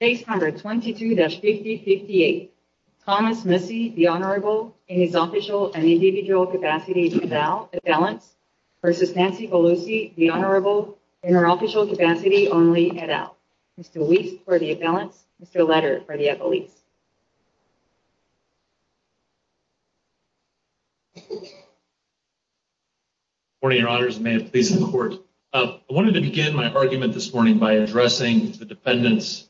Page number 22-5058 Thomas Massie, the Honorable, in his official and individual capacity, head out, at balance, versus Nancy Pelosi, the Honorable, in her official capacity, only head out. Mr. Weiss, for the at balance. Mr. Letter, for the at release. Morning, Your Honors, and may it please the Court. I wanted to begin my argument this morning by addressing the defendants'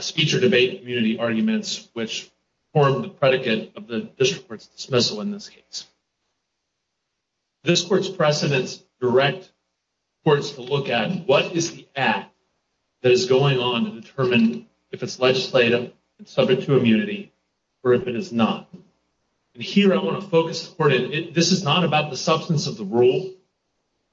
speech or debate community arguments, which formed the predicate of the district court's dismissal in this case. This Court's precedents direct courts to look at what is the act that is going on to determine if it's legislative, subject to immunity, or if it is not. And here I want to focus, this is not about the substance of the rule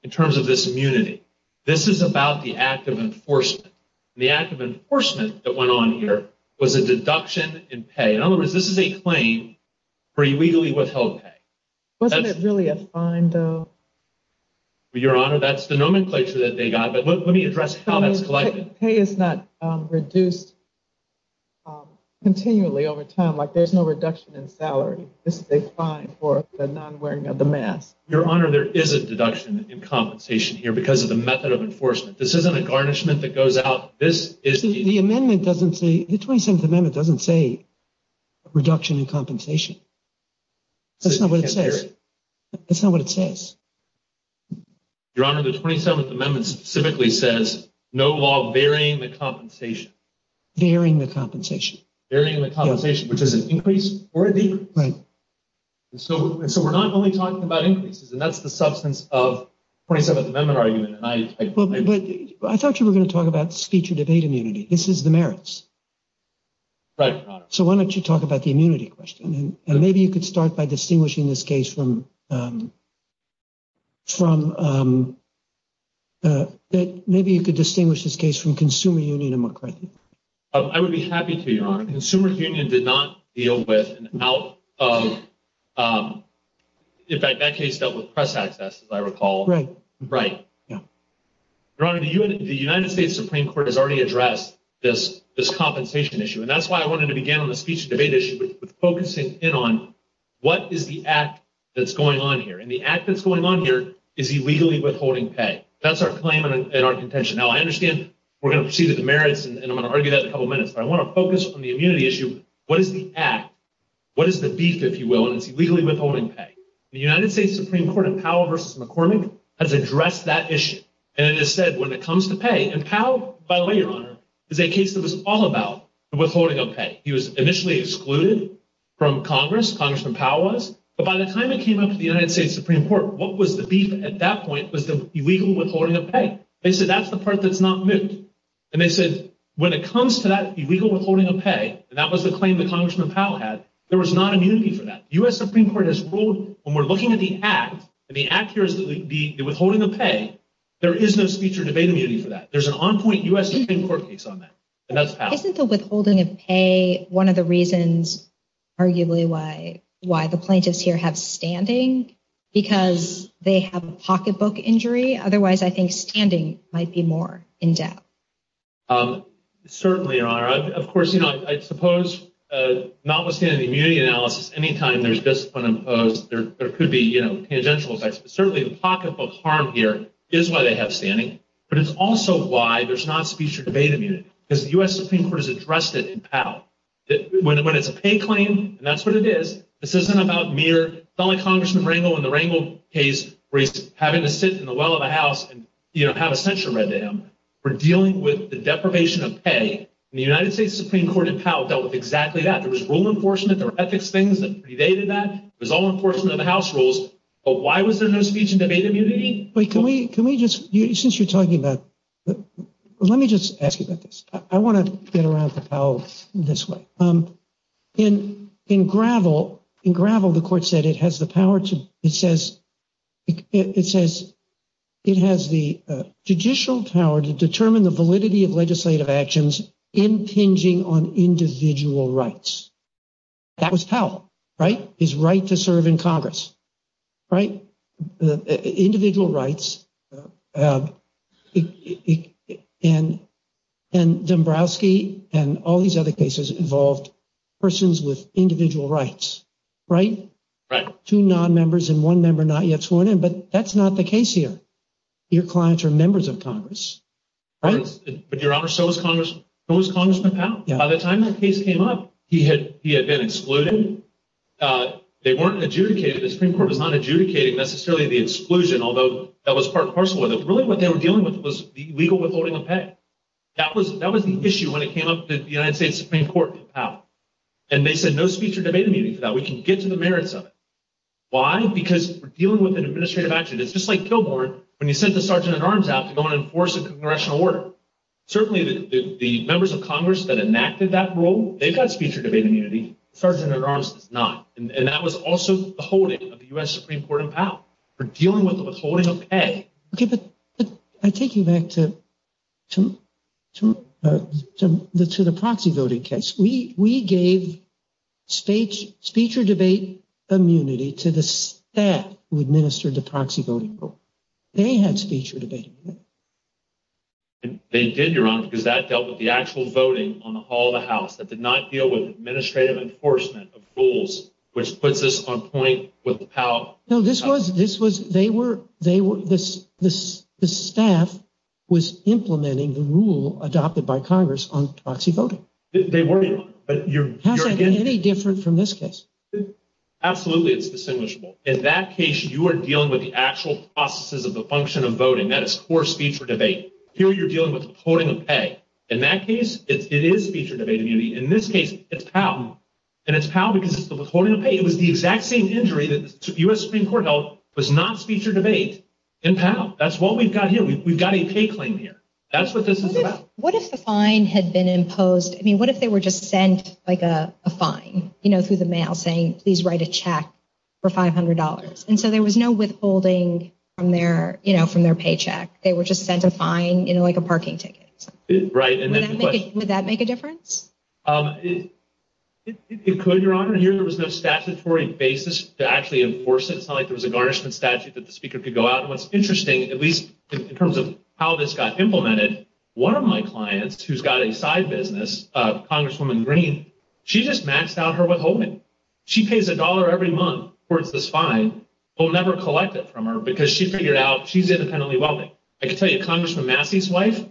in terms of this immunity. This is about the act of enforcement. The act of enforcement that went on here was a deduction in pay. In other words, this is a claim for illegally withheld pay. Wasn't it really a fine, though? Your Honor, that's the nomenclature that they got, but let me address how that's collected. Pay is not reduced continually over time, like there's no reduction in salary. This is a fine for the non-wearing of the mask. Your Honor, there is a deduction in compensation here because of the method of enforcement. This isn't a garnishment that goes out. The 27th Amendment doesn't say reduction in compensation. That's not what it says. Your Honor, the 27th Amendment specifically says no law varying the compensation. Varying the compensation. Varying the compensation, which is an increase or a decrease. So we're not only talking about increases, and that's the substance of the 27th Amendment argument. I thought you were going to talk about speech or debate immunity. This is the merits. Right, Your Honor. So why don't you talk about the immunity question, and maybe you could start by distinguishing this case from Consumer Union and McCarthy. I would be happy to, Your Honor. Consumer Union did not deal with an out of—in fact, that case dealt with press access, as I recall. Right. Right. Your Honor, the United States Supreme Court has already addressed this compensation issue, and that's why I wanted to begin on the speech or debate issue with focusing in on what is the act that's going on here. And the act that's going on here is illegally withholding pay. That's our claim and our contention. Now, I understand we're going to proceed with the merits, and I'm going to argue that in a couple minutes, but I want to focus on the immunity issue. What is the act? What is the beef, if you will, and it's illegally withholding pay? The United States Supreme Court in Powell v. McCormick has addressed that issue, and it has said when it comes to pay—and Powell, by the way, Your Honor, is a case that was all about withholding of pay. He was initially excluded from Congress, Congressman Powell was, but by the time it came up to the United States Supreme Court, what was the beef at that point was the illegal withholding of pay. They said that's the part that's not moot, and they said when it comes to that illegal withholding of pay, and that was the claim that Congressman Powell had, there was not immunity for that. The U.S. Supreme Court has ruled when we're looking at the act, and the act here is the withholding of pay, there is no speech or debate immunity for that. There's an on-point U.S. Supreme Court case on that, and that's Powell. Isn't the withholding of pay one of the reasons, arguably, why the plaintiffs here have standing, because they have a pocketbook injury? Otherwise, I think standing might be more in doubt. Certainly, Your Honor. Of course, you know, I suppose notwithstanding the immunity analysis, anytime there's discipline imposed, there could be, you know, tangential effects. Certainly, the pocketbook harm here is why they have standing, but it's also why there's not speech or debate immunity, because the U.S. Supreme Court has addressed it in Powell. When it's a pay claim, and that's what it is, this isn't about mere fellow Congressman Rangel in the Rangel case where he's having to sit in the well of a house and, you know, have a censure read to him. We're dealing with the deprivation of pay, and the United States Supreme Court in Powell dealt with exactly that. There was rule enforcement, there were ethics things that predated that, there was all enforcement of the House rules, but why was there no speech and debate immunity? Wait, can we just, since you're talking about, let me just ask you about this. I want to get around to Powell this way. In Gravel, in Gravel, the court said it has the power to, it says, it says it has the judicial power to determine the validity of legislative actions impinging on individual rights. That was Powell, right? His right to serve in Congress. Individual rights, and Dombrowski and all these other cases involved persons with individual rights, right? Right. Two non-members and one member not yet sworn in, but that's not the case here. Your clients are members of Congress, right? But Your Honor, so was Congressman Powell. By the time that case came up, he had been excluded. They weren't adjudicated, the Supreme Court was not adjudicating necessarily the exclusion, although that was part and parcel with it. Really what they were dealing with was the legal withholding of pay. That was the issue when it came up that the United States Supreme Court in Powell. And they said no speech or debate immunity for that. We can get to the merits of it. Why? Because we're dealing with an administrative action. It's just like Kilbourn when you sent the sergeant at arms out to go and enforce a congressional order. Certainly the members of Congress that enacted that rule, they've got speech or debate immunity. Sergeant at arms does not. And that was also the holding of the U.S. Supreme Court in Powell for dealing with withholding of pay. Okay, but I take you back to the proxy voting case. We gave speech or debate immunity to the staff who administered the proxy voting rule. They had speech or debate immunity. They did, Your Honor, because that dealt with the actual voting on the hall of the House. That did not deal with administrative enforcement of rules, which puts us on point with Powell. No, this was, this was, they were, they were, the staff was implementing the rule adopted by Congress on proxy voting. They were not. How is that any different from this case? Absolutely, it's distinguishable. In that case, you are dealing with the actual processes of the function of voting. That is core speech or debate. Here you're dealing with withholding of pay. In that case, it is speech or debate immunity. In this case, it's Powell. And it's Powell because it's withholding of pay. It was the exact same injury that the U.S. Supreme Court held was not speech or debate in Powell. That's what we've got here. We've got a pay claim here. That's what this is about. What if the fine had been imposed? I mean, what if they were just sent like a fine, you know, through the mail saying, please write a check for $500? And so there was no withholding from their, you know, from their paycheck. They were just sent a fine, you know, like a parking ticket. Right. Would that make a difference? It could, Your Honor. Here there was no statutory basis to actually enforce it. It's not like there was a garnishment statute that the Speaker could go out. At least in terms of how this got implemented, one of my clients who's got a side business, Congresswoman Green, she just maxed out her withholding. She pays a dollar every month towards this fine. We'll never collect it from her because she figured out she's independently wealthy. I can tell you, Congressman Massey's wife,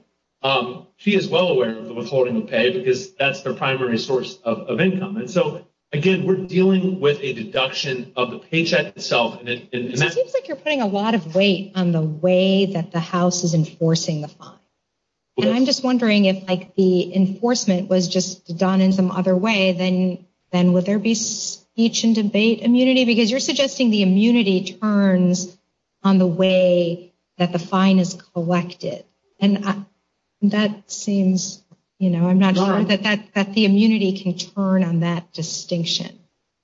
she is well aware of the withholding of pay because that's their primary source of income. And so, again, we're dealing with a deduction of the paycheck itself. It seems like you're putting a lot of weight on the way that the House is enforcing the fine. And I'm just wondering if, like, the enforcement was just done in some other way, then would there be speech and debate immunity? Because you're suggesting the immunity turns on the way that the fine is collected. And that seems, you know, I'm not sure that the immunity can turn on that distinction.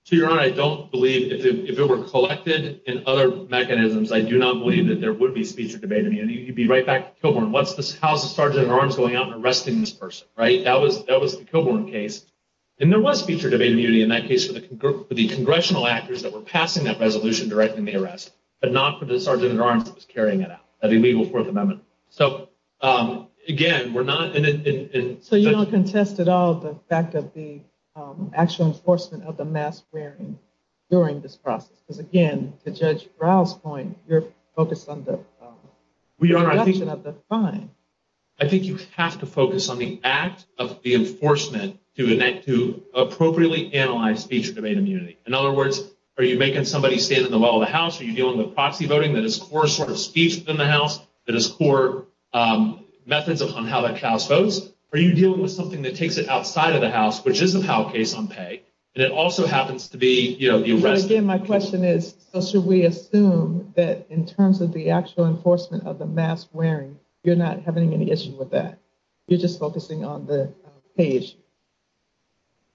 To your honor, I don't believe if it were collected in other mechanisms, I do not believe that there would be speech or debate immunity. You'd be right back to Kilbourn. How's the Sergeant-at-Arms going out and arresting this person, right? That was the Kilbourn case. And there was speech or debate immunity in that case for the congressional actors that were passing that resolution directing the arrest, but not for the Sergeant-at-Arms that was carrying it out, that illegal Fourth Amendment. So, again, we're not... So you don't contest at all the fact of the actual enforcement of the mask wearing during this process? Because, again, to Judge Ryle's point, you're focused on the reduction of the fine. I think you have to focus on the act of the enforcement to appropriately analyze speech and debate immunity. In other words, are you making somebody stand in the middle of the house? Are you dealing with proxy voting that is core sort of speech in the house, that is core methods on how the house votes? Are you dealing with something that takes it outside of the house, which is somehow a case on pay? And it also happens to be, you know, the arrest... But, again, my question is, so should we assume that in terms of the actual enforcement of the mask wearing, you're not having any issue with that? You're just focusing on the pay issue.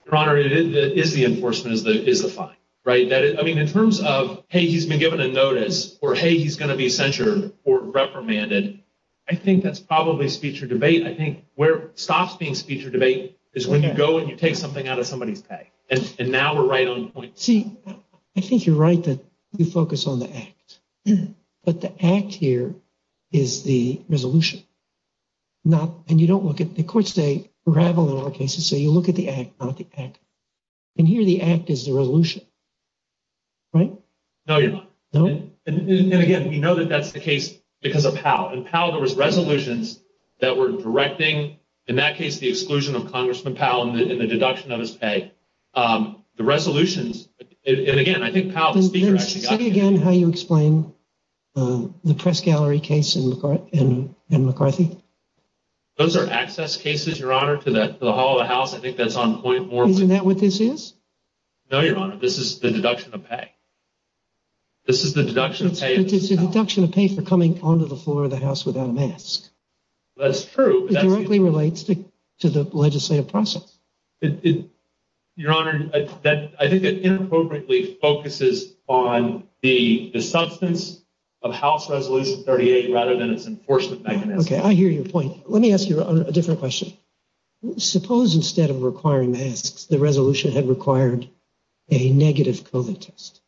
Your Honor, it is the enforcement is the fine, right? I mean, in terms of, hey, he's been given a notice or, hey, he's going to be censured or reprimanded, I think that's probably speech or debate. I think where it stops being speech or debate is when you go and you take something out of somebody's pay. And now we're right on the point. See, I think you're right that you focus on the act. But the act here is the resolution. And you don't look at... The courts, they ravel in our cases, so you look at the act, not the act. And here the act is the resolution, right? No, Your Honor. No? And, again, we know that that's the case because of Powell. In Powell, there was resolutions that were directing, in that case, the exclusion of Congressman Powell and the deduction of his pay. The resolutions... Say again how you explain the Press Gallery case in McCarthy. Those are access cases, Your Honor, to the hall of the House. I think that's on point more... Isn't that what this is? No, Your Honor. This is the deduction of pay. This is the deduction of pay. It's a deduction of pay for coming onto the floor of the House without a mask. That's true. It directly relates to the legislative process. Your Honor, I think it inappropriately focuses on the substance of House Resolution 38 rather than its enforcement mechanism. Okay, I hear your point. Let me ask you a different question. Suppose instead of requiring masks, the resolution had required a negative COVID test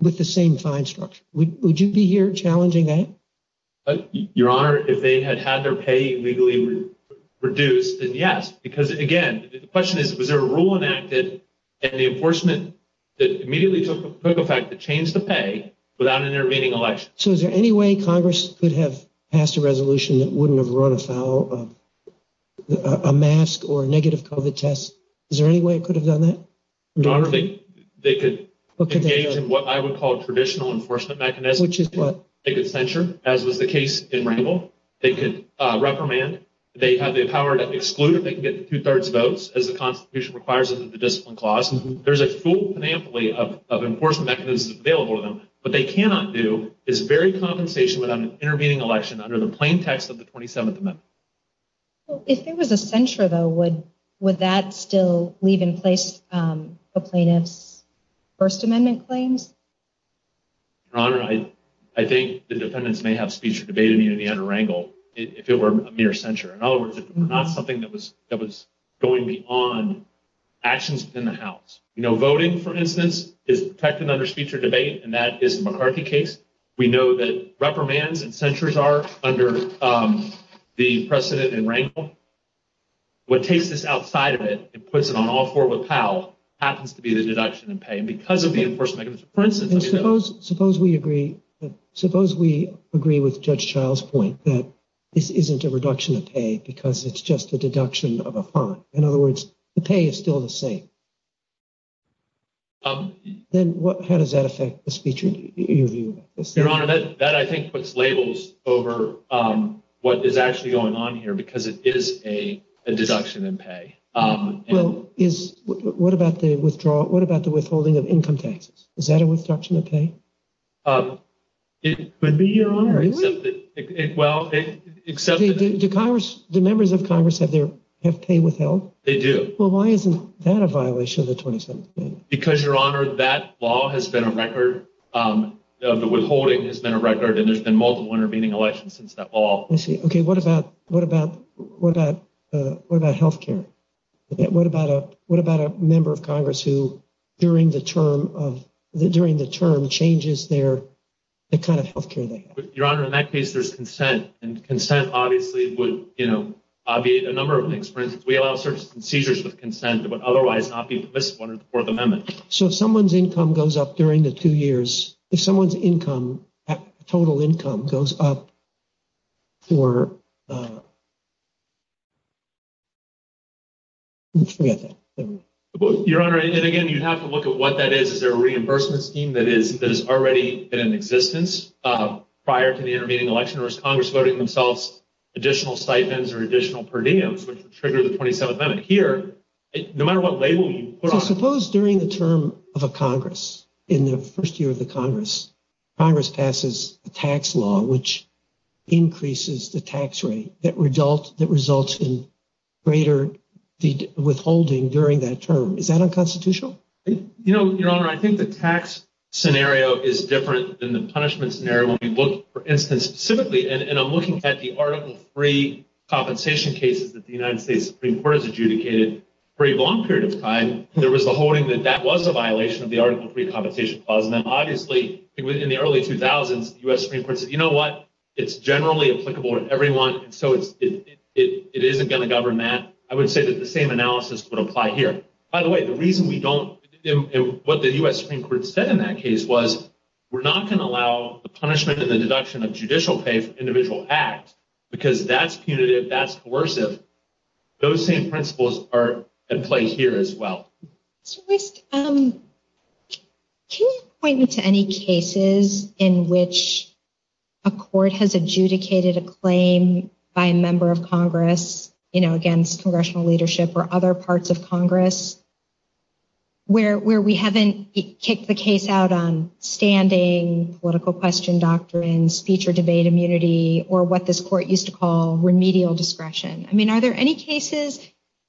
with the same fine structure. Would you be here challenging that? Your Honor, if they had had their pay legally reduced, then yes. Because, again, the question is, was there a rule enacted and the enforcement that immediately took effect to change the pay without an intervening election? So is there any way Congress could have passed a resolution that wouldn't have run afoul of a mask or a negative COVID test? Is there any way it could have done that? Your Honor, they could engage in what I would call a traditional enforcement mechanism. Which is what? They could censure, as was the case in Rangel. They could reprimand. They have the power to exclude if they can get two-thirds votes, as the Constitution requires under the Discipline Clause. There's a full panoply of enforcement mechanisms available to them. What they cannot do is vary compensation without an intervening election under the plain text of the 27th Amendment. If there was a censure, though, would that still leave in place the plaintiff's First Amendment claims? Your Honor, I think the defendants may have speech or debate immunity under Rangel if it were a mere censure. In other words, if it were not something that was going beyond actions within the House. Voting, for instance, is protected under speech or debate, and that is the McCarthy case. We know that reprimands and censures are under the precedent in Rangel. What takes this outside of it and puts it on all four with Powell happens to be the deduction in pay. Suppose we agree with Judge Child's point that this isn't a reduction of pay because it's just a deduction of a fine. In other words, the pay is still the same. Then how does that affect the speech or debate? Your Honor, that, I think, puts labels over what is actually going on here because it is a deduction in pay. What about the withdrawal? What about the withholding of income taxes? Is that a withdrawal of pay? It could be, Your Honor. The members of Congress have their pay withheld? They do. Well, why isn't that a violation of the 27th Amendment? Because, Your Honor, that law has been a record. The withholding has been a record, and there's been multiple intervening elections since that law. OK, what about what about what about what about health care? What about what about a member of Congress who, during the term of the during the term, changes their kind of health care? Your Honor, in that case, there's consent and consent obviously would, you know, be a number of things. For instance, we allow searches and seizures with consent that would otherwise not be permissible under the Fourth Amendment. So if someone's income goes up during the two years, if someone's income, total income goes up for. Your Honor, and again, you have to look at what that is. Is there a reimbursement scheme that is that is already in existence prior to the intervening election? Or is Congress voting themselves additional stipends or additional per diems, which would trigger the 27th Amendment here? No matter what label you put on. Suppose during the term of a Congress in the first year of the Congress, Congress passes a tax law which increases the tax rate that result that results in greater withholding during that term. Is that unconstitutional? You know, Your Honor, I think the tax scenario is different than the punishment scenario. For instance, specifically, and I'm looking at the Article III compensation cases that the United States Supreme Court has adjudicated. For a long period of time, there was a holding that that was a violation of the Article III compensation clause. And then obviously, in the early 2000s, the U.S. Supreme Court said, you know what? It's generally applicable to everyone. So it isn't going to govern that. I would say that the same analysis would apply here. By the way, the reason we don't, what the U.S. Supreme Court said in that case was, we're not going to allow the punishment and the deduction of judicial pay for individual acts because that's punitive, that's coercive. Those same principles are at play here as well. Can you point me to any cases in which a court has adjudicated a claim by a member of Congress, you know, against congressional leadership or other parts of Congress, where we haven't kicked the case out on standing, political question doctrines, speech or debate immunity, or what this court used to call remedial discretion? I mean, are there any cases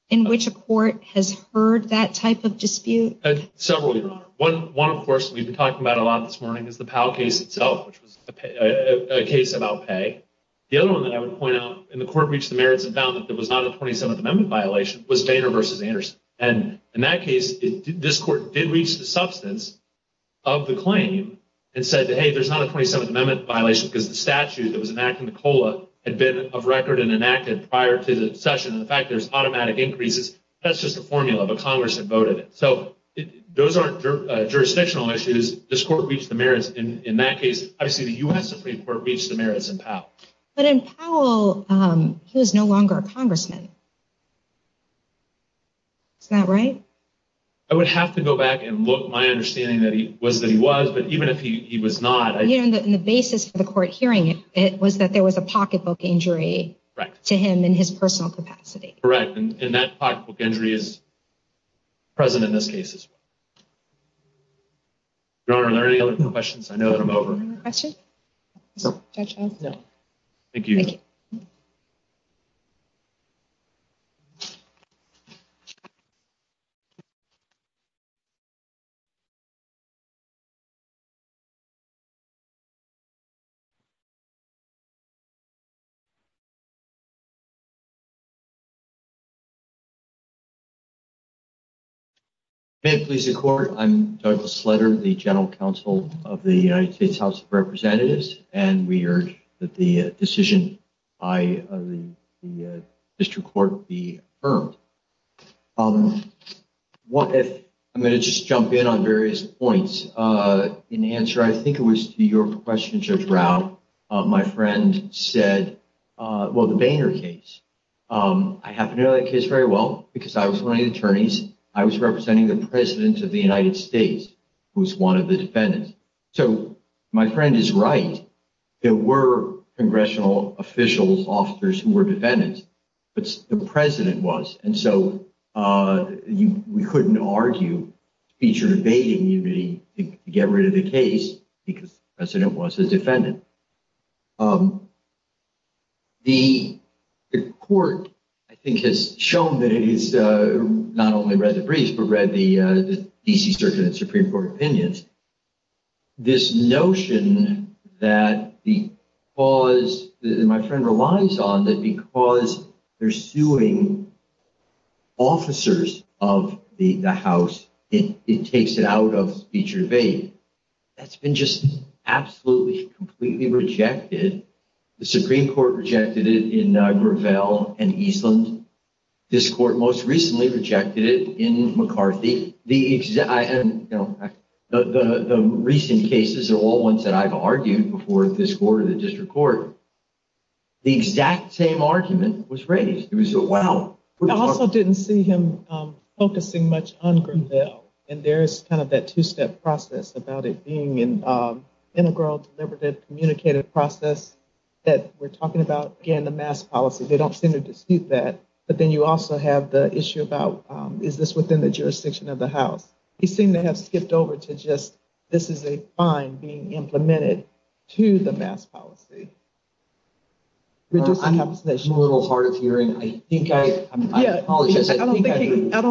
in which a court has heard that type of dispute? Several, Your Honor. One, of course, we've been talking about a lot this morning is the Powell case itself, which was a case about pay. The other one that I would point out, and the court reached the merits and found that there was not a 27th Amendment violation, was Boehner v. Anderson. And in that case, this court did reach the substance of the claim and said, hey, there's not a 27th Amendment violation because the statute that was enacted in the COLA had been of record and enacted prior to the session. And the fact there's automatic increases, that's just a formula, but Congress had voted it. So those aren't jurisdictional issues. This court reached the merits in that case. Obviously, the U.S. Supreme Court reached the merits in Powell. But in Powell, he was no longer a congressman. Is that right? I would have to go back and look. My understanding was that he was, but even if he was not. And the basis for the court hearing it was that there was a pocketbook injury to him in his personal capacity. Correct. And that pocketbook injury is present in this case as well. Your Honor, are there any other questions? I know that I'm over. No. Thank you. Thank you. May it please the Court. I'm Douglas Sletter, the General Counsel of the United States House of Representatives. And we urge that the decision by the district court be affirmed. I'm going to just jump in on various points. In answer, I think it was to your question, Judge Rao, my friend said, well, the Boehner case. I happen to know that case very well because I was one of the attorneys. I was representing the President of the United States, who was one of the defendants. So my friend is right. There were congressional officials, officers who were defendants, but the President was. And so we couldn't argue speech or debate immunity to get rid of the case because the President was a defendant. The court, I think, has shown that it is not only read the brief, but read the DC Circuit and Supreme Court opinions. This notion that the cause that my friend relies on, that because they're suing officers of the House, it takes it out of speech or debate. That's been just absolutely, completely rejected. The Supreme Court rejected it in Gravel and Eastland. This court most recently rejected it in McCarthy. The recent cases are all ones that I've argued before this court or the district court. The exact same argument was raised. It was a wow. I also didn't see him focusing much on Gravel. And there's kind of that two-step process about it being an integral, deliberative, communicative process that we're talking about. Again, the mass policy, they don't seem to dispute that. But then you also have the issue about, is this within the jurisdiction of the House? You seem to have skipped over to just, this is a fine being implemented to the mass policy. I'm a little hard of hearing. I apologize. I don't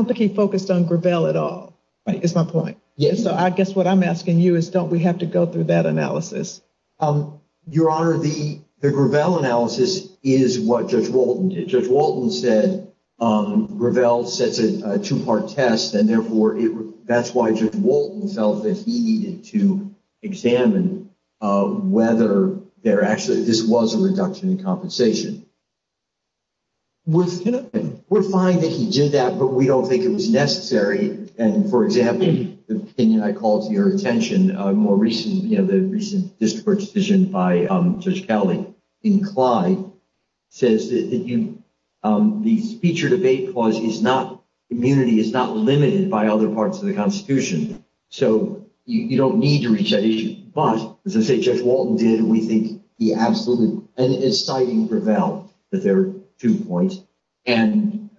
think he focused on Gravel at all, is my point. So I guess what I'm asking you is, don't we have to go through that analysis? Your Honor, the Gravel analysis is what Judge Walton did. Gravel sets a two-part test, and therefore that's why Judge Walton felt that he needed to examine whether there actually, this was a reduction in compensation. We're fine that he did that, but we don't think it was necessary. And for example, the opinion I called to your attention, the recent district decision by Judge Cowley in Clyde, says that the speech or debate clause is not, immunity is not limited by other parts of the Constitution. So you don't need to reach that issue. But, as I say, Judge Walton did. We think the absolute, and it's citing Gravel, that there are two points. And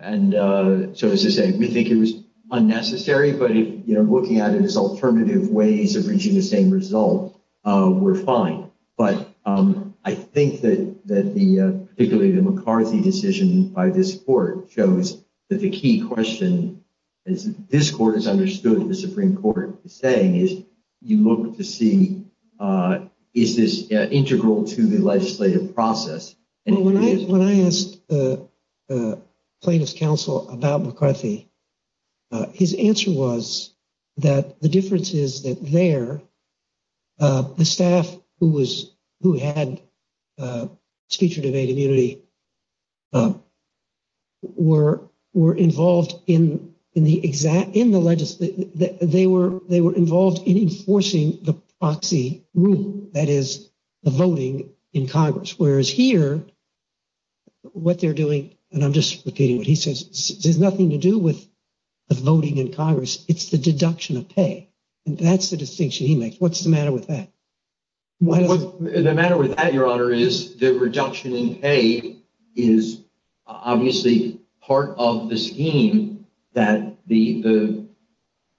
so, as I say, we think it was unnecessary, but looking at it as alternative ways of reaching the same result, we're fine. But I think that particularly the McCarthy decision by this court shows that the key question, as this court has understood what the Supreme Court is saying, is you look to see, is this integral to the legislative process? When I asked plaintiff's counsel about McCarthy, his answer was that the difference is that there, the staff who had speech or debate immunity were involved in the exact, in the legislative, they were involved in enforcing the proxy rule, that is, the voting in Congress. Whereas here, what they're doing, and I'm just repeating what he says, there's nothing to do with the voting in Congress. It's the deduction of pay. And that's the distinction he makes. What's the matter with that? The matter with that, Your Honor, is the reduction in pay is obviously part of the scheme that the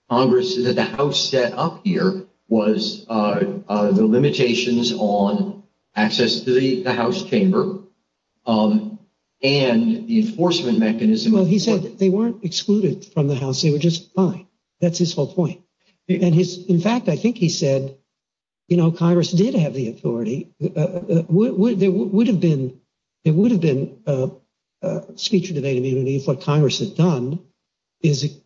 Congress, that the House set up here was the limitations on access to the House chamber and the enforcement mechanism. Well, he said they weren't excluded from the House. They were just fine. That's his whole point. In fact, I think he said, you know, Congress did have the authority. There would have been speech or debate immunity if what Congress had done is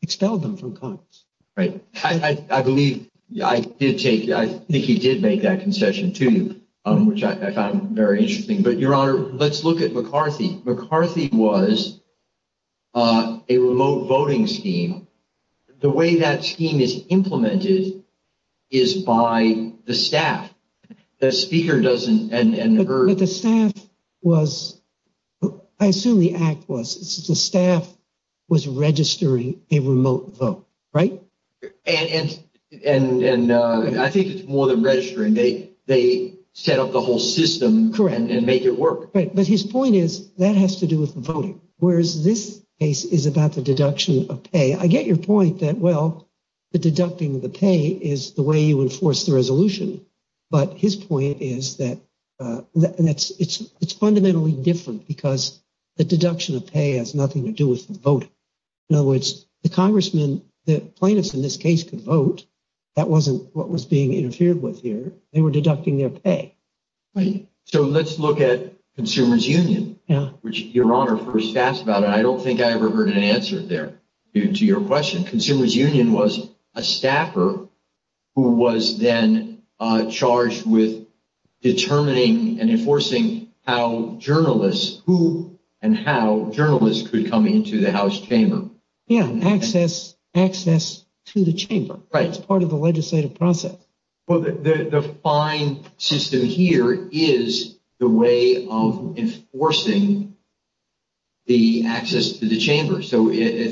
expelled them from Congress. Right. I believe, I did take, I think he did make that concession to you, which I found very interesting. But, Your Honor, let's look at McCarthy. McCarthy was a remote voting scheme. The way that scheme is implemented is by the staff. The speaker doesn't and her. But the staff was, I assume the act was, the staff was registering a remote vote, right? And I think it's more than registering. They set up the whole system and make it work. But his point is that has to do with the voting, whereas this case is about the deduction of pay. I get your point that, well, the deducting of the pay is the way you enforce the resolution. But his point is that it's fundamentally different because the deduction of pay has nothing to do with the vote. In other words, the congressman, the plaintiffs in this case could vote. That wasn't what was being interfered with here. They were deducting their pay. So let's look at Consumers Union, which Your Honor first asked about. And I don't think I ever heard an answer there to your question. Consumers Union was a staffer who was then charged with determining and enforcing how journalists, who and how journalists could come into the House chamber. Yeah, access to the chamber. Right. It's part of the legislative process. Well, the fine system here is the way of enforcing the access to the chamber. So to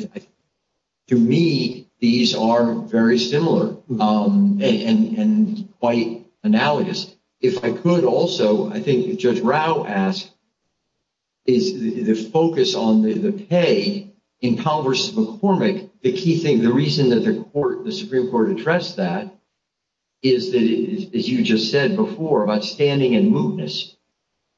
me, these are very similar and quite analogous. If I could also, I think Judge Rao asked, is the focus on the pay in Powell v. McCormick. The key thing, the reason that the Supreme Court addressed that is that, as you just said before, about standing and mootness.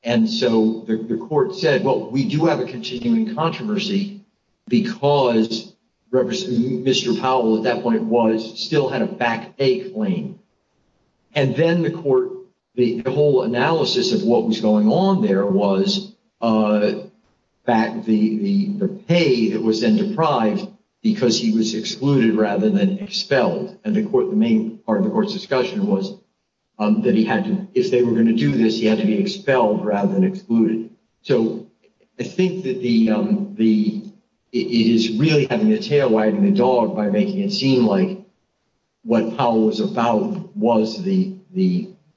And so the court said, well, we do have a continuing controversy because Mr. Powell at that point still had a back pay claim. And then the court, the whole analysis of what was going on there was back the pay that was then deprived because he was excluded rather than expelled. And the court, the main part of the court's discussion was that he had to, if they were going to do this, he had to be expelled rather than excluded. And so I think that it is really having a tail wagging the dog by making it seem like what Powell was about was the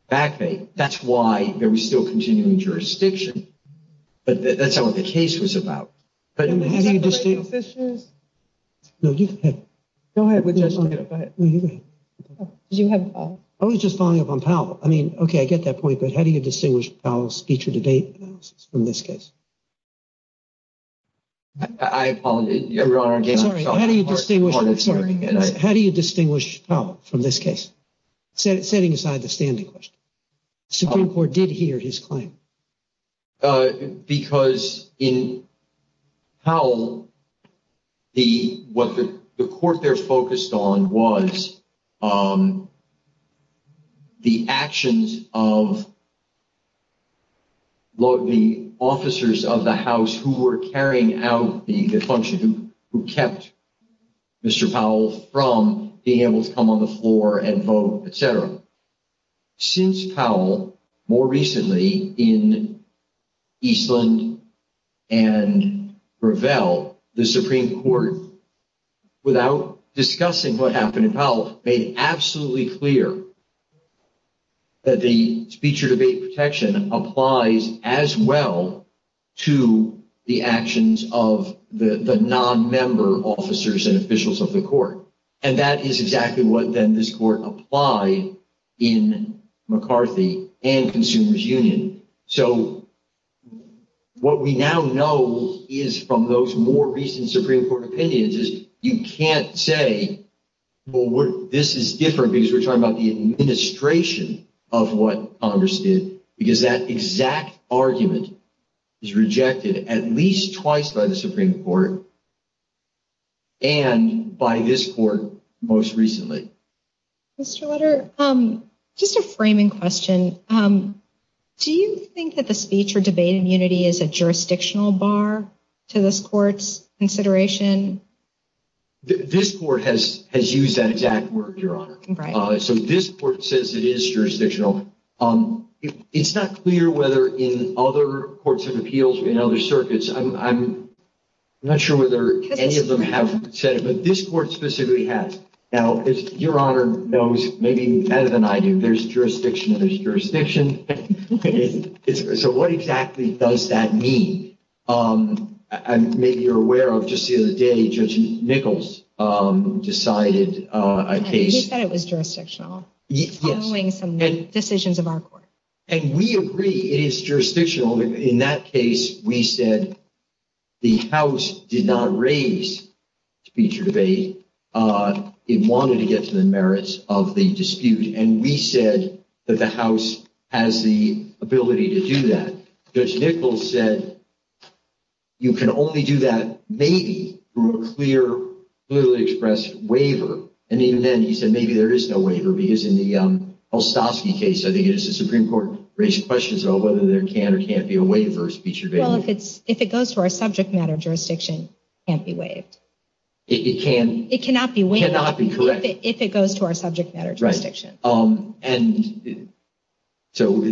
back pay. That's why there was still continuing jurisdiction. But that's not what the case was about. How do you distinguish Powell's feature debate analysis from this case? How do you distinguish Powell from this case? Setting aside the standing question, the Supreme Court did hear his claim. Because in Powell, what the court there focused on was the actions of the officers of the House who were carrying out the function, who kept Mr. Powell from being able to come on the floor and vote, etc. Since Powell, more recently in Eastland and Gravel, the Supreme Court, without discussing what happened in Powell, made absolutely clear that the feature debate protection applies as well to the actions of the non-member officers and officials of the court. And that is exactly what then this court applied in McCarthy and Consumers Union. So what we now know is from those more recent Supreme Court opinions is you can't say, well, this is different because we're talking about the administration of what Congress did. Because that exact argument is rejected at least twice by the Supreme Court and by this court most recently. Mr. Lutter, just a framing question. Do you think that the speech or debate immunity is a jurisdictional bar to this court's consideration? This court has used that exact word, Your Honor. So this court says it is jurisdictional. It's not clear whether in other courts of appeals or in other circuits. I'm not sure whether any of them have said it, but this court specifically has. Now, Your Honor knows maybe better than I do, there's jurisdiction and there's jurisdiction. So what exactly does that mean? Maybe you're aware of just the other day, Judge Nichols decided a case. He said it was jurisdictional, following some decisions of our court. And we agree it is jurisdictional. In that case, we said the House did not raise speech or debate. It wanted to get to the merits of the dispute. And we said that the House has the ability to do that. Judge Nichols said you can only do that maybe through a clear, clearly expressed waiver. And even then, he said maybe there is no waiver, because in the Holstowski case, I think it is the Supreme Court, raised questions about whether there can or can't be a waiver of speech or debate. Well, if it goes to our subject matter jurisdiction, it can't be waived. It can't? It cannot be waived. It cannot be correct? If it goes to our subject matter jurisdiction. Right. And so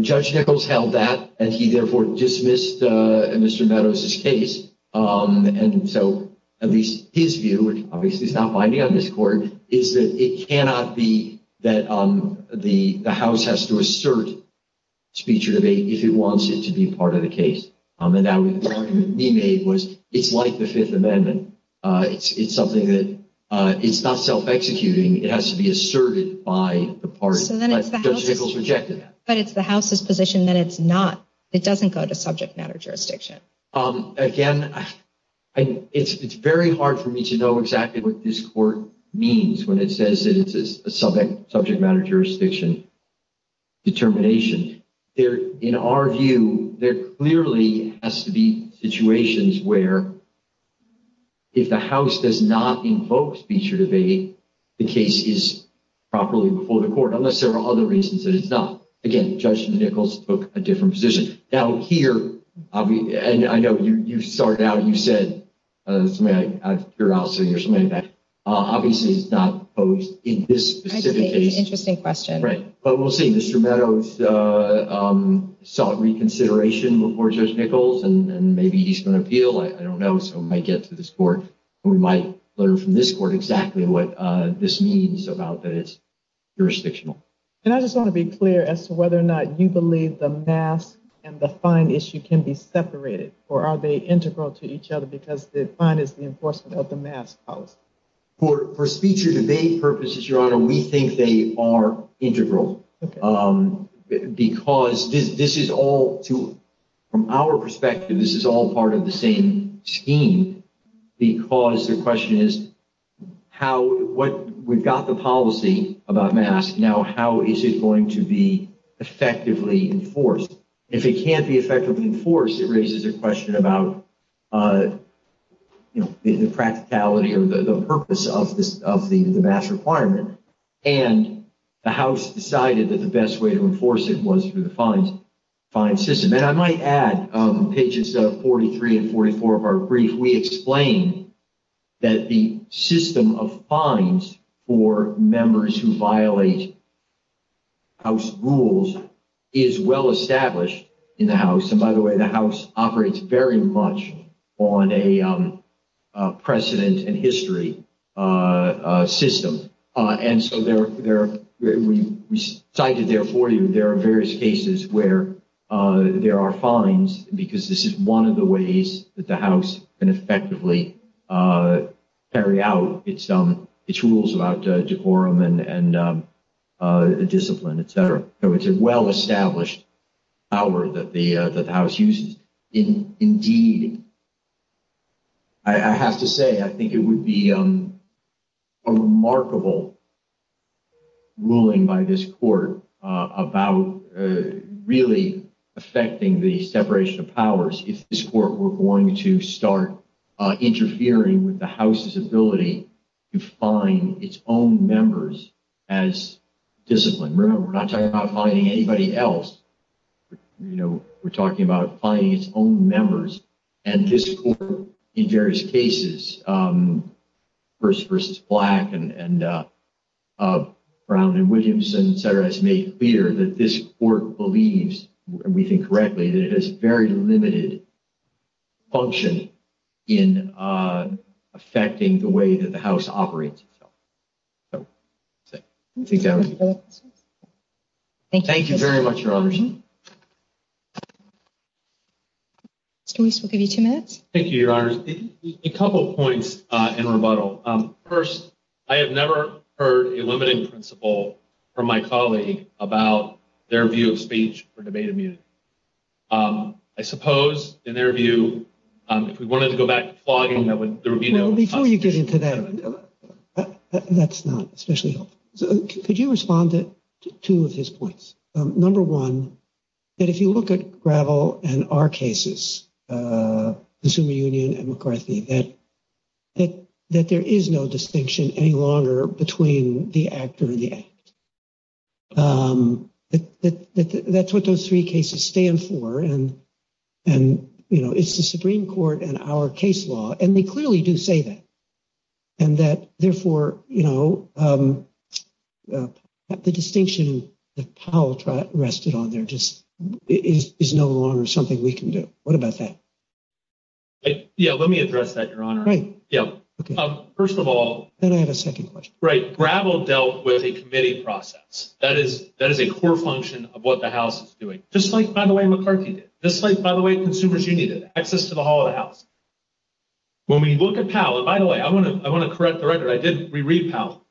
Judge Nichols held that, and he therefore dismissed Mr. Meadows' case. And so at least his view, which obviously is not binding on this court, is that it cannot be that the House has to assert speech or debate if it wants it to be part of the case. And the argument he made was it's like the Fifth Amendment. It's something that it's not self-executing. It has to be asserted by the parties. But it's the House's position that it's not. It doesn't go to subject matter jurisdiction. Again, it's very hard for me to know exactly what this court means when it says it's a subject matter jurisdiction determination. In our view, there clearly has to be situations where if the House does not invoke speech or debate, the case is properly before the court, unless there are other reasons that it's not. Again, Judge Nichols took a different position. Now, here, I know you started out and you said something I figured out sitting here so many times. Obviously, it's not opposed in this specific case. Interesting question. Right. But we'll see. Mr. Meadows sought reconsideration before Judge Nichols, and maybe he's going to appeal. I don't know. So we might get to this court, and we might learn from this court exactly what this means about that it's jurisdictional. And I just want to be clear as to whether or not you believe the mask and the fine issue can be separated, or are they integral to each other because the fine is the enforcement of the mask policy? For speech or debate purposes, Your Honor, we think they are integral because this is all, from our perspective, this is all part of the same scheme because the question is, we've got the policy about masks. Now, how is it going to be effectively enforced? If it can't be effectively enforced, it raises a question about the practicality or the purpose of the mask requirement. And the House decided that the best way to enforce it was through the fine system. And I might add, pages 43 and 44 of our brief, we explain that the system of fines for members who violate House rules is well established in the House. And, by the way, the House operates very much on a precedent and history system. And so there are various cases where there are fines because this is one of the ways that the House can effectively carry out its rules about decorum and discipline, etc. So it's a well-established power that the House uses. Indeed, I have to say, I think it would be a remarkable ruling by this court about really affecting the separation of powers if this court were going to start interfering with the House's ability to fine its own members as discipline. Remember, we're not talking about fining anybody else. We're talking about fining its own members. And this court, in various cases, first versus Black and Brown and Williamson, etc., has made clear that this court believes, and we think correctly, that it has very limited function in affecting the way that the House operates. Thank you very much, Your Honors. Mr. Weiss, we'll give you two minutes. Thank you, Your Honors. A couple of points in rebuttal. First, I have never heard a limiting principle from my colleague about their view of speech or debate immunity. I suppose, in their view, if we wanted to go back to flogging, there would be no— Well, before you get into that, that's not especially helpful. Could you respond to two of his points? Number one, that if you look at Gravel and our cases, Consumer Union and McCarthy, that there is no distinction any longer between the actor and the act. That's what those three cases stand for. And, you know, it's the Supreme Court and our case law, and they clearly do say that. And that, therefore, you know, the distinction that Powell rested on there just is no longer something we can do. What about that? Yeah, let me address that, Your Honor. Right. Yeah. First of all— Then I have a second question. Right. Gravel dealt with a committee process. That is a core function of what the House is doing. Just like, by the way, McCarthy did. Just like, by the way, Consumer's Union did. Access to the whole of the House. When we look at Powell—and, by the way, I want to correct the record. I did reread Powell.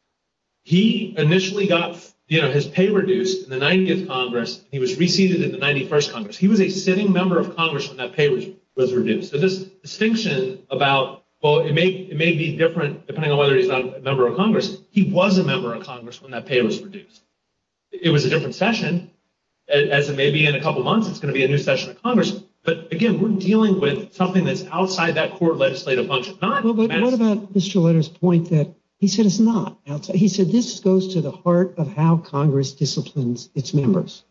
He initially got his pay reduced in the 90th Congress. He was re-seated in the 91st Congress. He was a sitting member of Congress when that pay was reduced. So this distinction about, well, it may be different depending on whether he's a member of Congress. He was a member of Congress when that pay was reduced. It was a different session. As it may be in a couple months, it's going to be a new session of Congress. But, again, we're dealing with something that's outside that court legislative function, not— Well, but what about Mr. Letters' point that he said it's not? He said this goes to the heart of how Congress disciplines its members,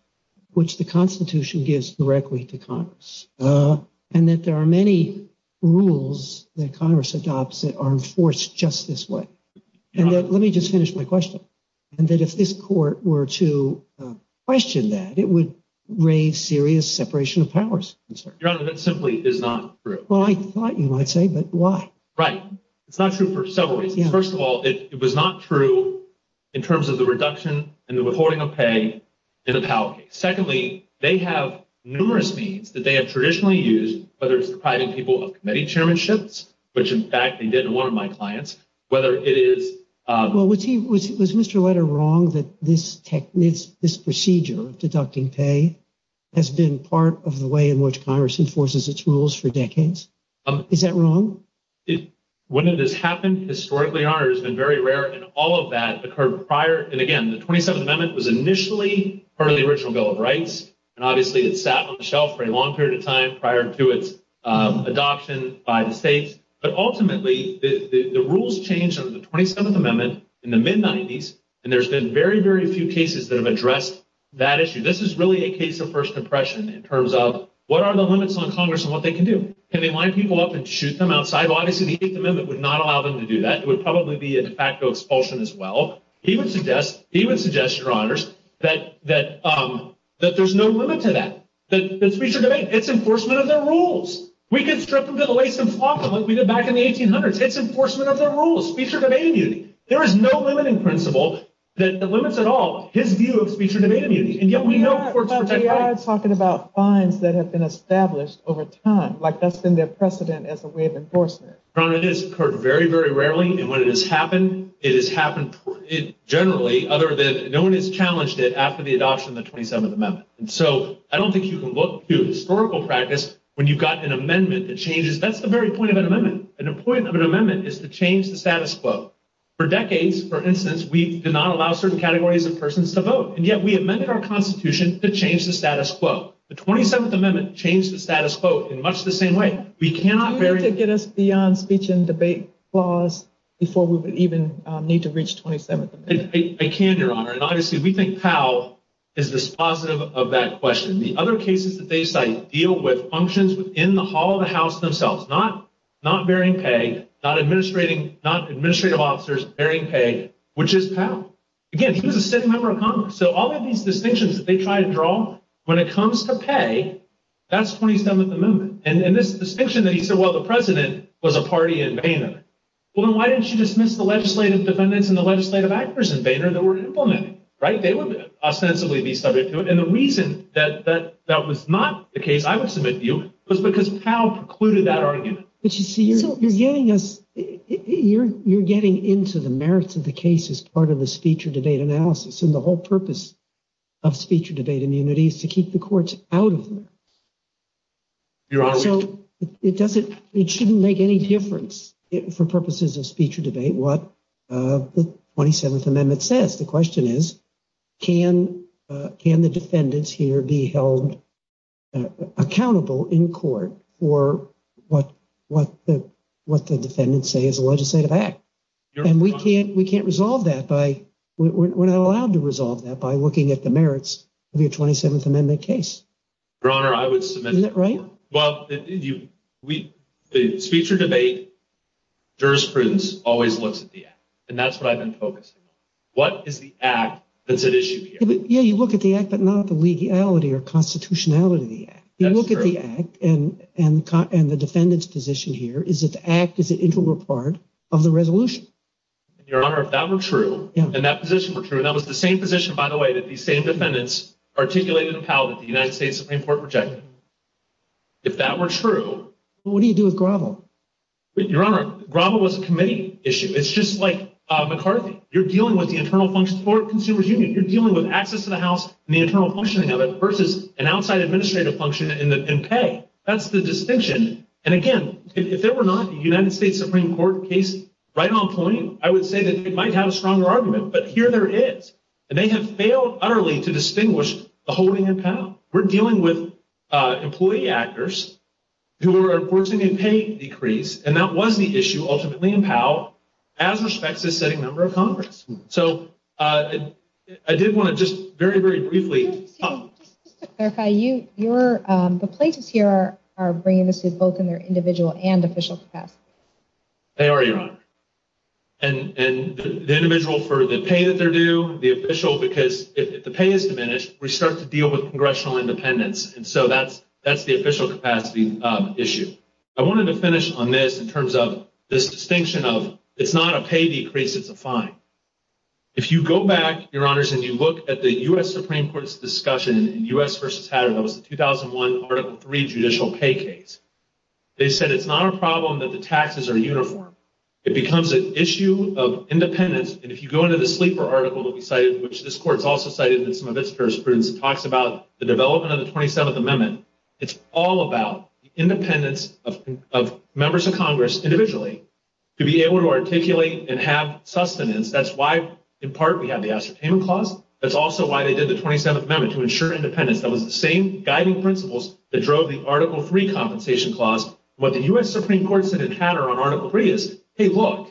which the Constitution gives directly to Congress, and that there are many rules that Congress adopts that are enforced just this way. And let me just finish my question, and that if this court were to question that, it would raise serious separation of powers concerns. Your Honor, that simply is not true. Well, I thought you might say, but why? Right. It's not true for several reasons. First of all, it was not true in terms of the reduction and the withholding of pay in the Powell case. Secondly, they have numerous means that they have traditionally used, whether it's the private people of committee chairmanships, which, in fact, they did in one of my clients, whether it is— Well, was Mr. Letter wrong that this procedure of deducting pay has been part of the way in which Congress enforces its rules for decades? Is that wrong? When it has happened historically, Your Honor, it has been very rare. And all of that occurred prior. And again, the 27th Amendment was initially part of the original Bill of Rights, and obviously it sat on the shelf for a long period of time prior to its adoption by the states. But ultimately, the rules changed under the 27th Amendment in the mid-'90s, and there's been very, very few cases that have addressed that issue. This is really a case of first impression in terms of what are the limits on Congress and what they can do. Can they line people up and shoot them outside? Obviously, the 8th Amendment would not allow them to do that. It would probably be a de facto expulsion as well. He would suggest, Your Honors, that there's no limit to that, the speech or debate. It's enforcement of their rules. We can strip them to the lace and flop them like we did back in the 1800s. It's enforcement of their rules, speech or debate immunity. There is no limit in principle that limits at all his view of speech or debate immunity. And yet we know courts protect— But we are talking about fines that have been established over time. Like, that's been their precedent as a way of enforcement. Your Honor, it has occurred very, very rarely. And when it has happened, it has happened generally other than no one has challenged it after the adoption of the 27th Amendment. And so I don't think you can look to historical practice when you've got an amendment that changes—that's the very point of an amendment. And the point of an amendment is to change the status quo. For decades, for instance, we did not allow certain categories of persons to vote. And yet we amended our Constitution to change the status quo. The 27th Amendment changed the status quo in much the same way. We cannot— Do you need to get us beyond speech and debate clause before we would even need to reach 27th Amendment? I can, Your Honor. And obviously we think Powell is dispositive of that question. The other cases that they cite deal with functions within the hall of the House themselves, not bearing pay, not administrative officers bearing pay, which is Powell. Again, he was a sitting member of Congress. So all of these distinctions that they try to draw, when it comes to pay, that's 27th Amendment. And this distinction that he said, well, the president was a party in Boehner. Well, then why didn't you dismiss the legislative defendants and the legislative actors in Boehner that were implemented? They would ostensibly be subject to it. And the reason that that was not the case I would submit to you was because Powell precluded that argument. But you see, you're getting us—you're getting into the merits of the case as part of the speech or debate analysis. And the whole purpose of speech or debate immunity is to keep the courts out of them. Your Honor. So it doesn't—it shouldn't make any difference for purposes of speech or debate what the 27th Amendment says. The question is, can the defendants here be held accountable in court for what the defendants say is a legislative act? And we can't—we can't resolve that by—we're not allowed to resolve that by looking at the merits of your 27th Amendment case. Your Honor, I would submit— Isn't that right? Well, the speech or debate jurisprudence always looks at the act. And that's what I've been focusing on. What is the act that's at issue here? Yeah, you look at the act, but not the legality or constitutionality of the act. You look at the act and the defendant's position here is that the act is an integral part of the resolution. Your Honor, if that were true, and that position were true—and that was the same position, by the way, that these same defendants articulated and appelled that the United States Supreme Court rejected. If that were true— Well, what do you do with Grovel? Your Honor, Grovel was a committee issue. It's just like McCarthy. You're dealing with the internal function of the Consumer's Union. You're dealing with access to the House and the internal functioning of it versus an outside administrative function in pay. That's the distinction. And, again, if there were not a United States Supreme Court case right on point, I would say that it might have a stronger argument. But here there is. And they have failed utterly to distinguish the holding in power. We're dealing with employee actors who are enforcing a pay decrease, and that was the issue ultimately in power as respects to a setting member of Congress. So I did want to just very, very briefly— Just to clarify, the plaintiffs here are bringing this to both their individual and official capacity. They are, Your Honor. And the individual for the pay that they're due, the official, because if the pay is diminished, we start to deal with congressional independence. And so that's the official capacity issue. I wanted to finish on this in terms of this distinction of it's not a pay decrease, it's a fine. If you go back, Your Honors, and you look at the U.S. Supreme Court's discussion in U.S. v. Hatter, that was the 2001 Article III judicial pay case, they said it's not a problem that the taxes are uniform. It becomes an issue of independence. And if you go into the Sleeper article that we cited, which this Court has also cited in some of its jurisprudence, it talks about the development of the 27th Amendment. It's all about the independence of members of Congress individually to be able to articulate and have sustenance. That's why, in part, we have the Ascertainment Clause. That's also why they did the 27th Amendment, to ensure independence. That was the same guiding principles that drove the Article III Compensation Clause. What the U.S. Supreme Court said in Hatter on Article III is, hey, look,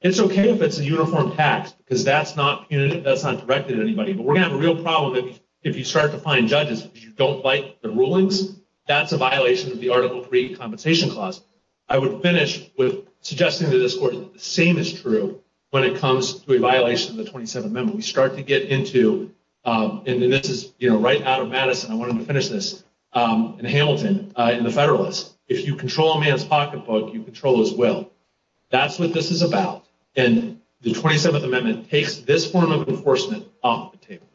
it's okay if it's a uniform tax because that's not directed at anybody. But we're going to have a real problem if you start to find judges who don't like the rulings. That's a violation of the Article III Compensation Clause. I would finish with suggesting to this Court that the same is true when it comes to a violation of the 27th Amendment. We start to get into, and this is right out of Madison, I wanted to finish this, in Hamilton, in the Federalist. If you control a man's pocketbook, you control his will. That's what this is about. The 27th Amendment takes this form of enforcement off the table.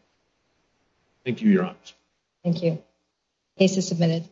Thank you, Your Honors. Thank you. Case is submitted.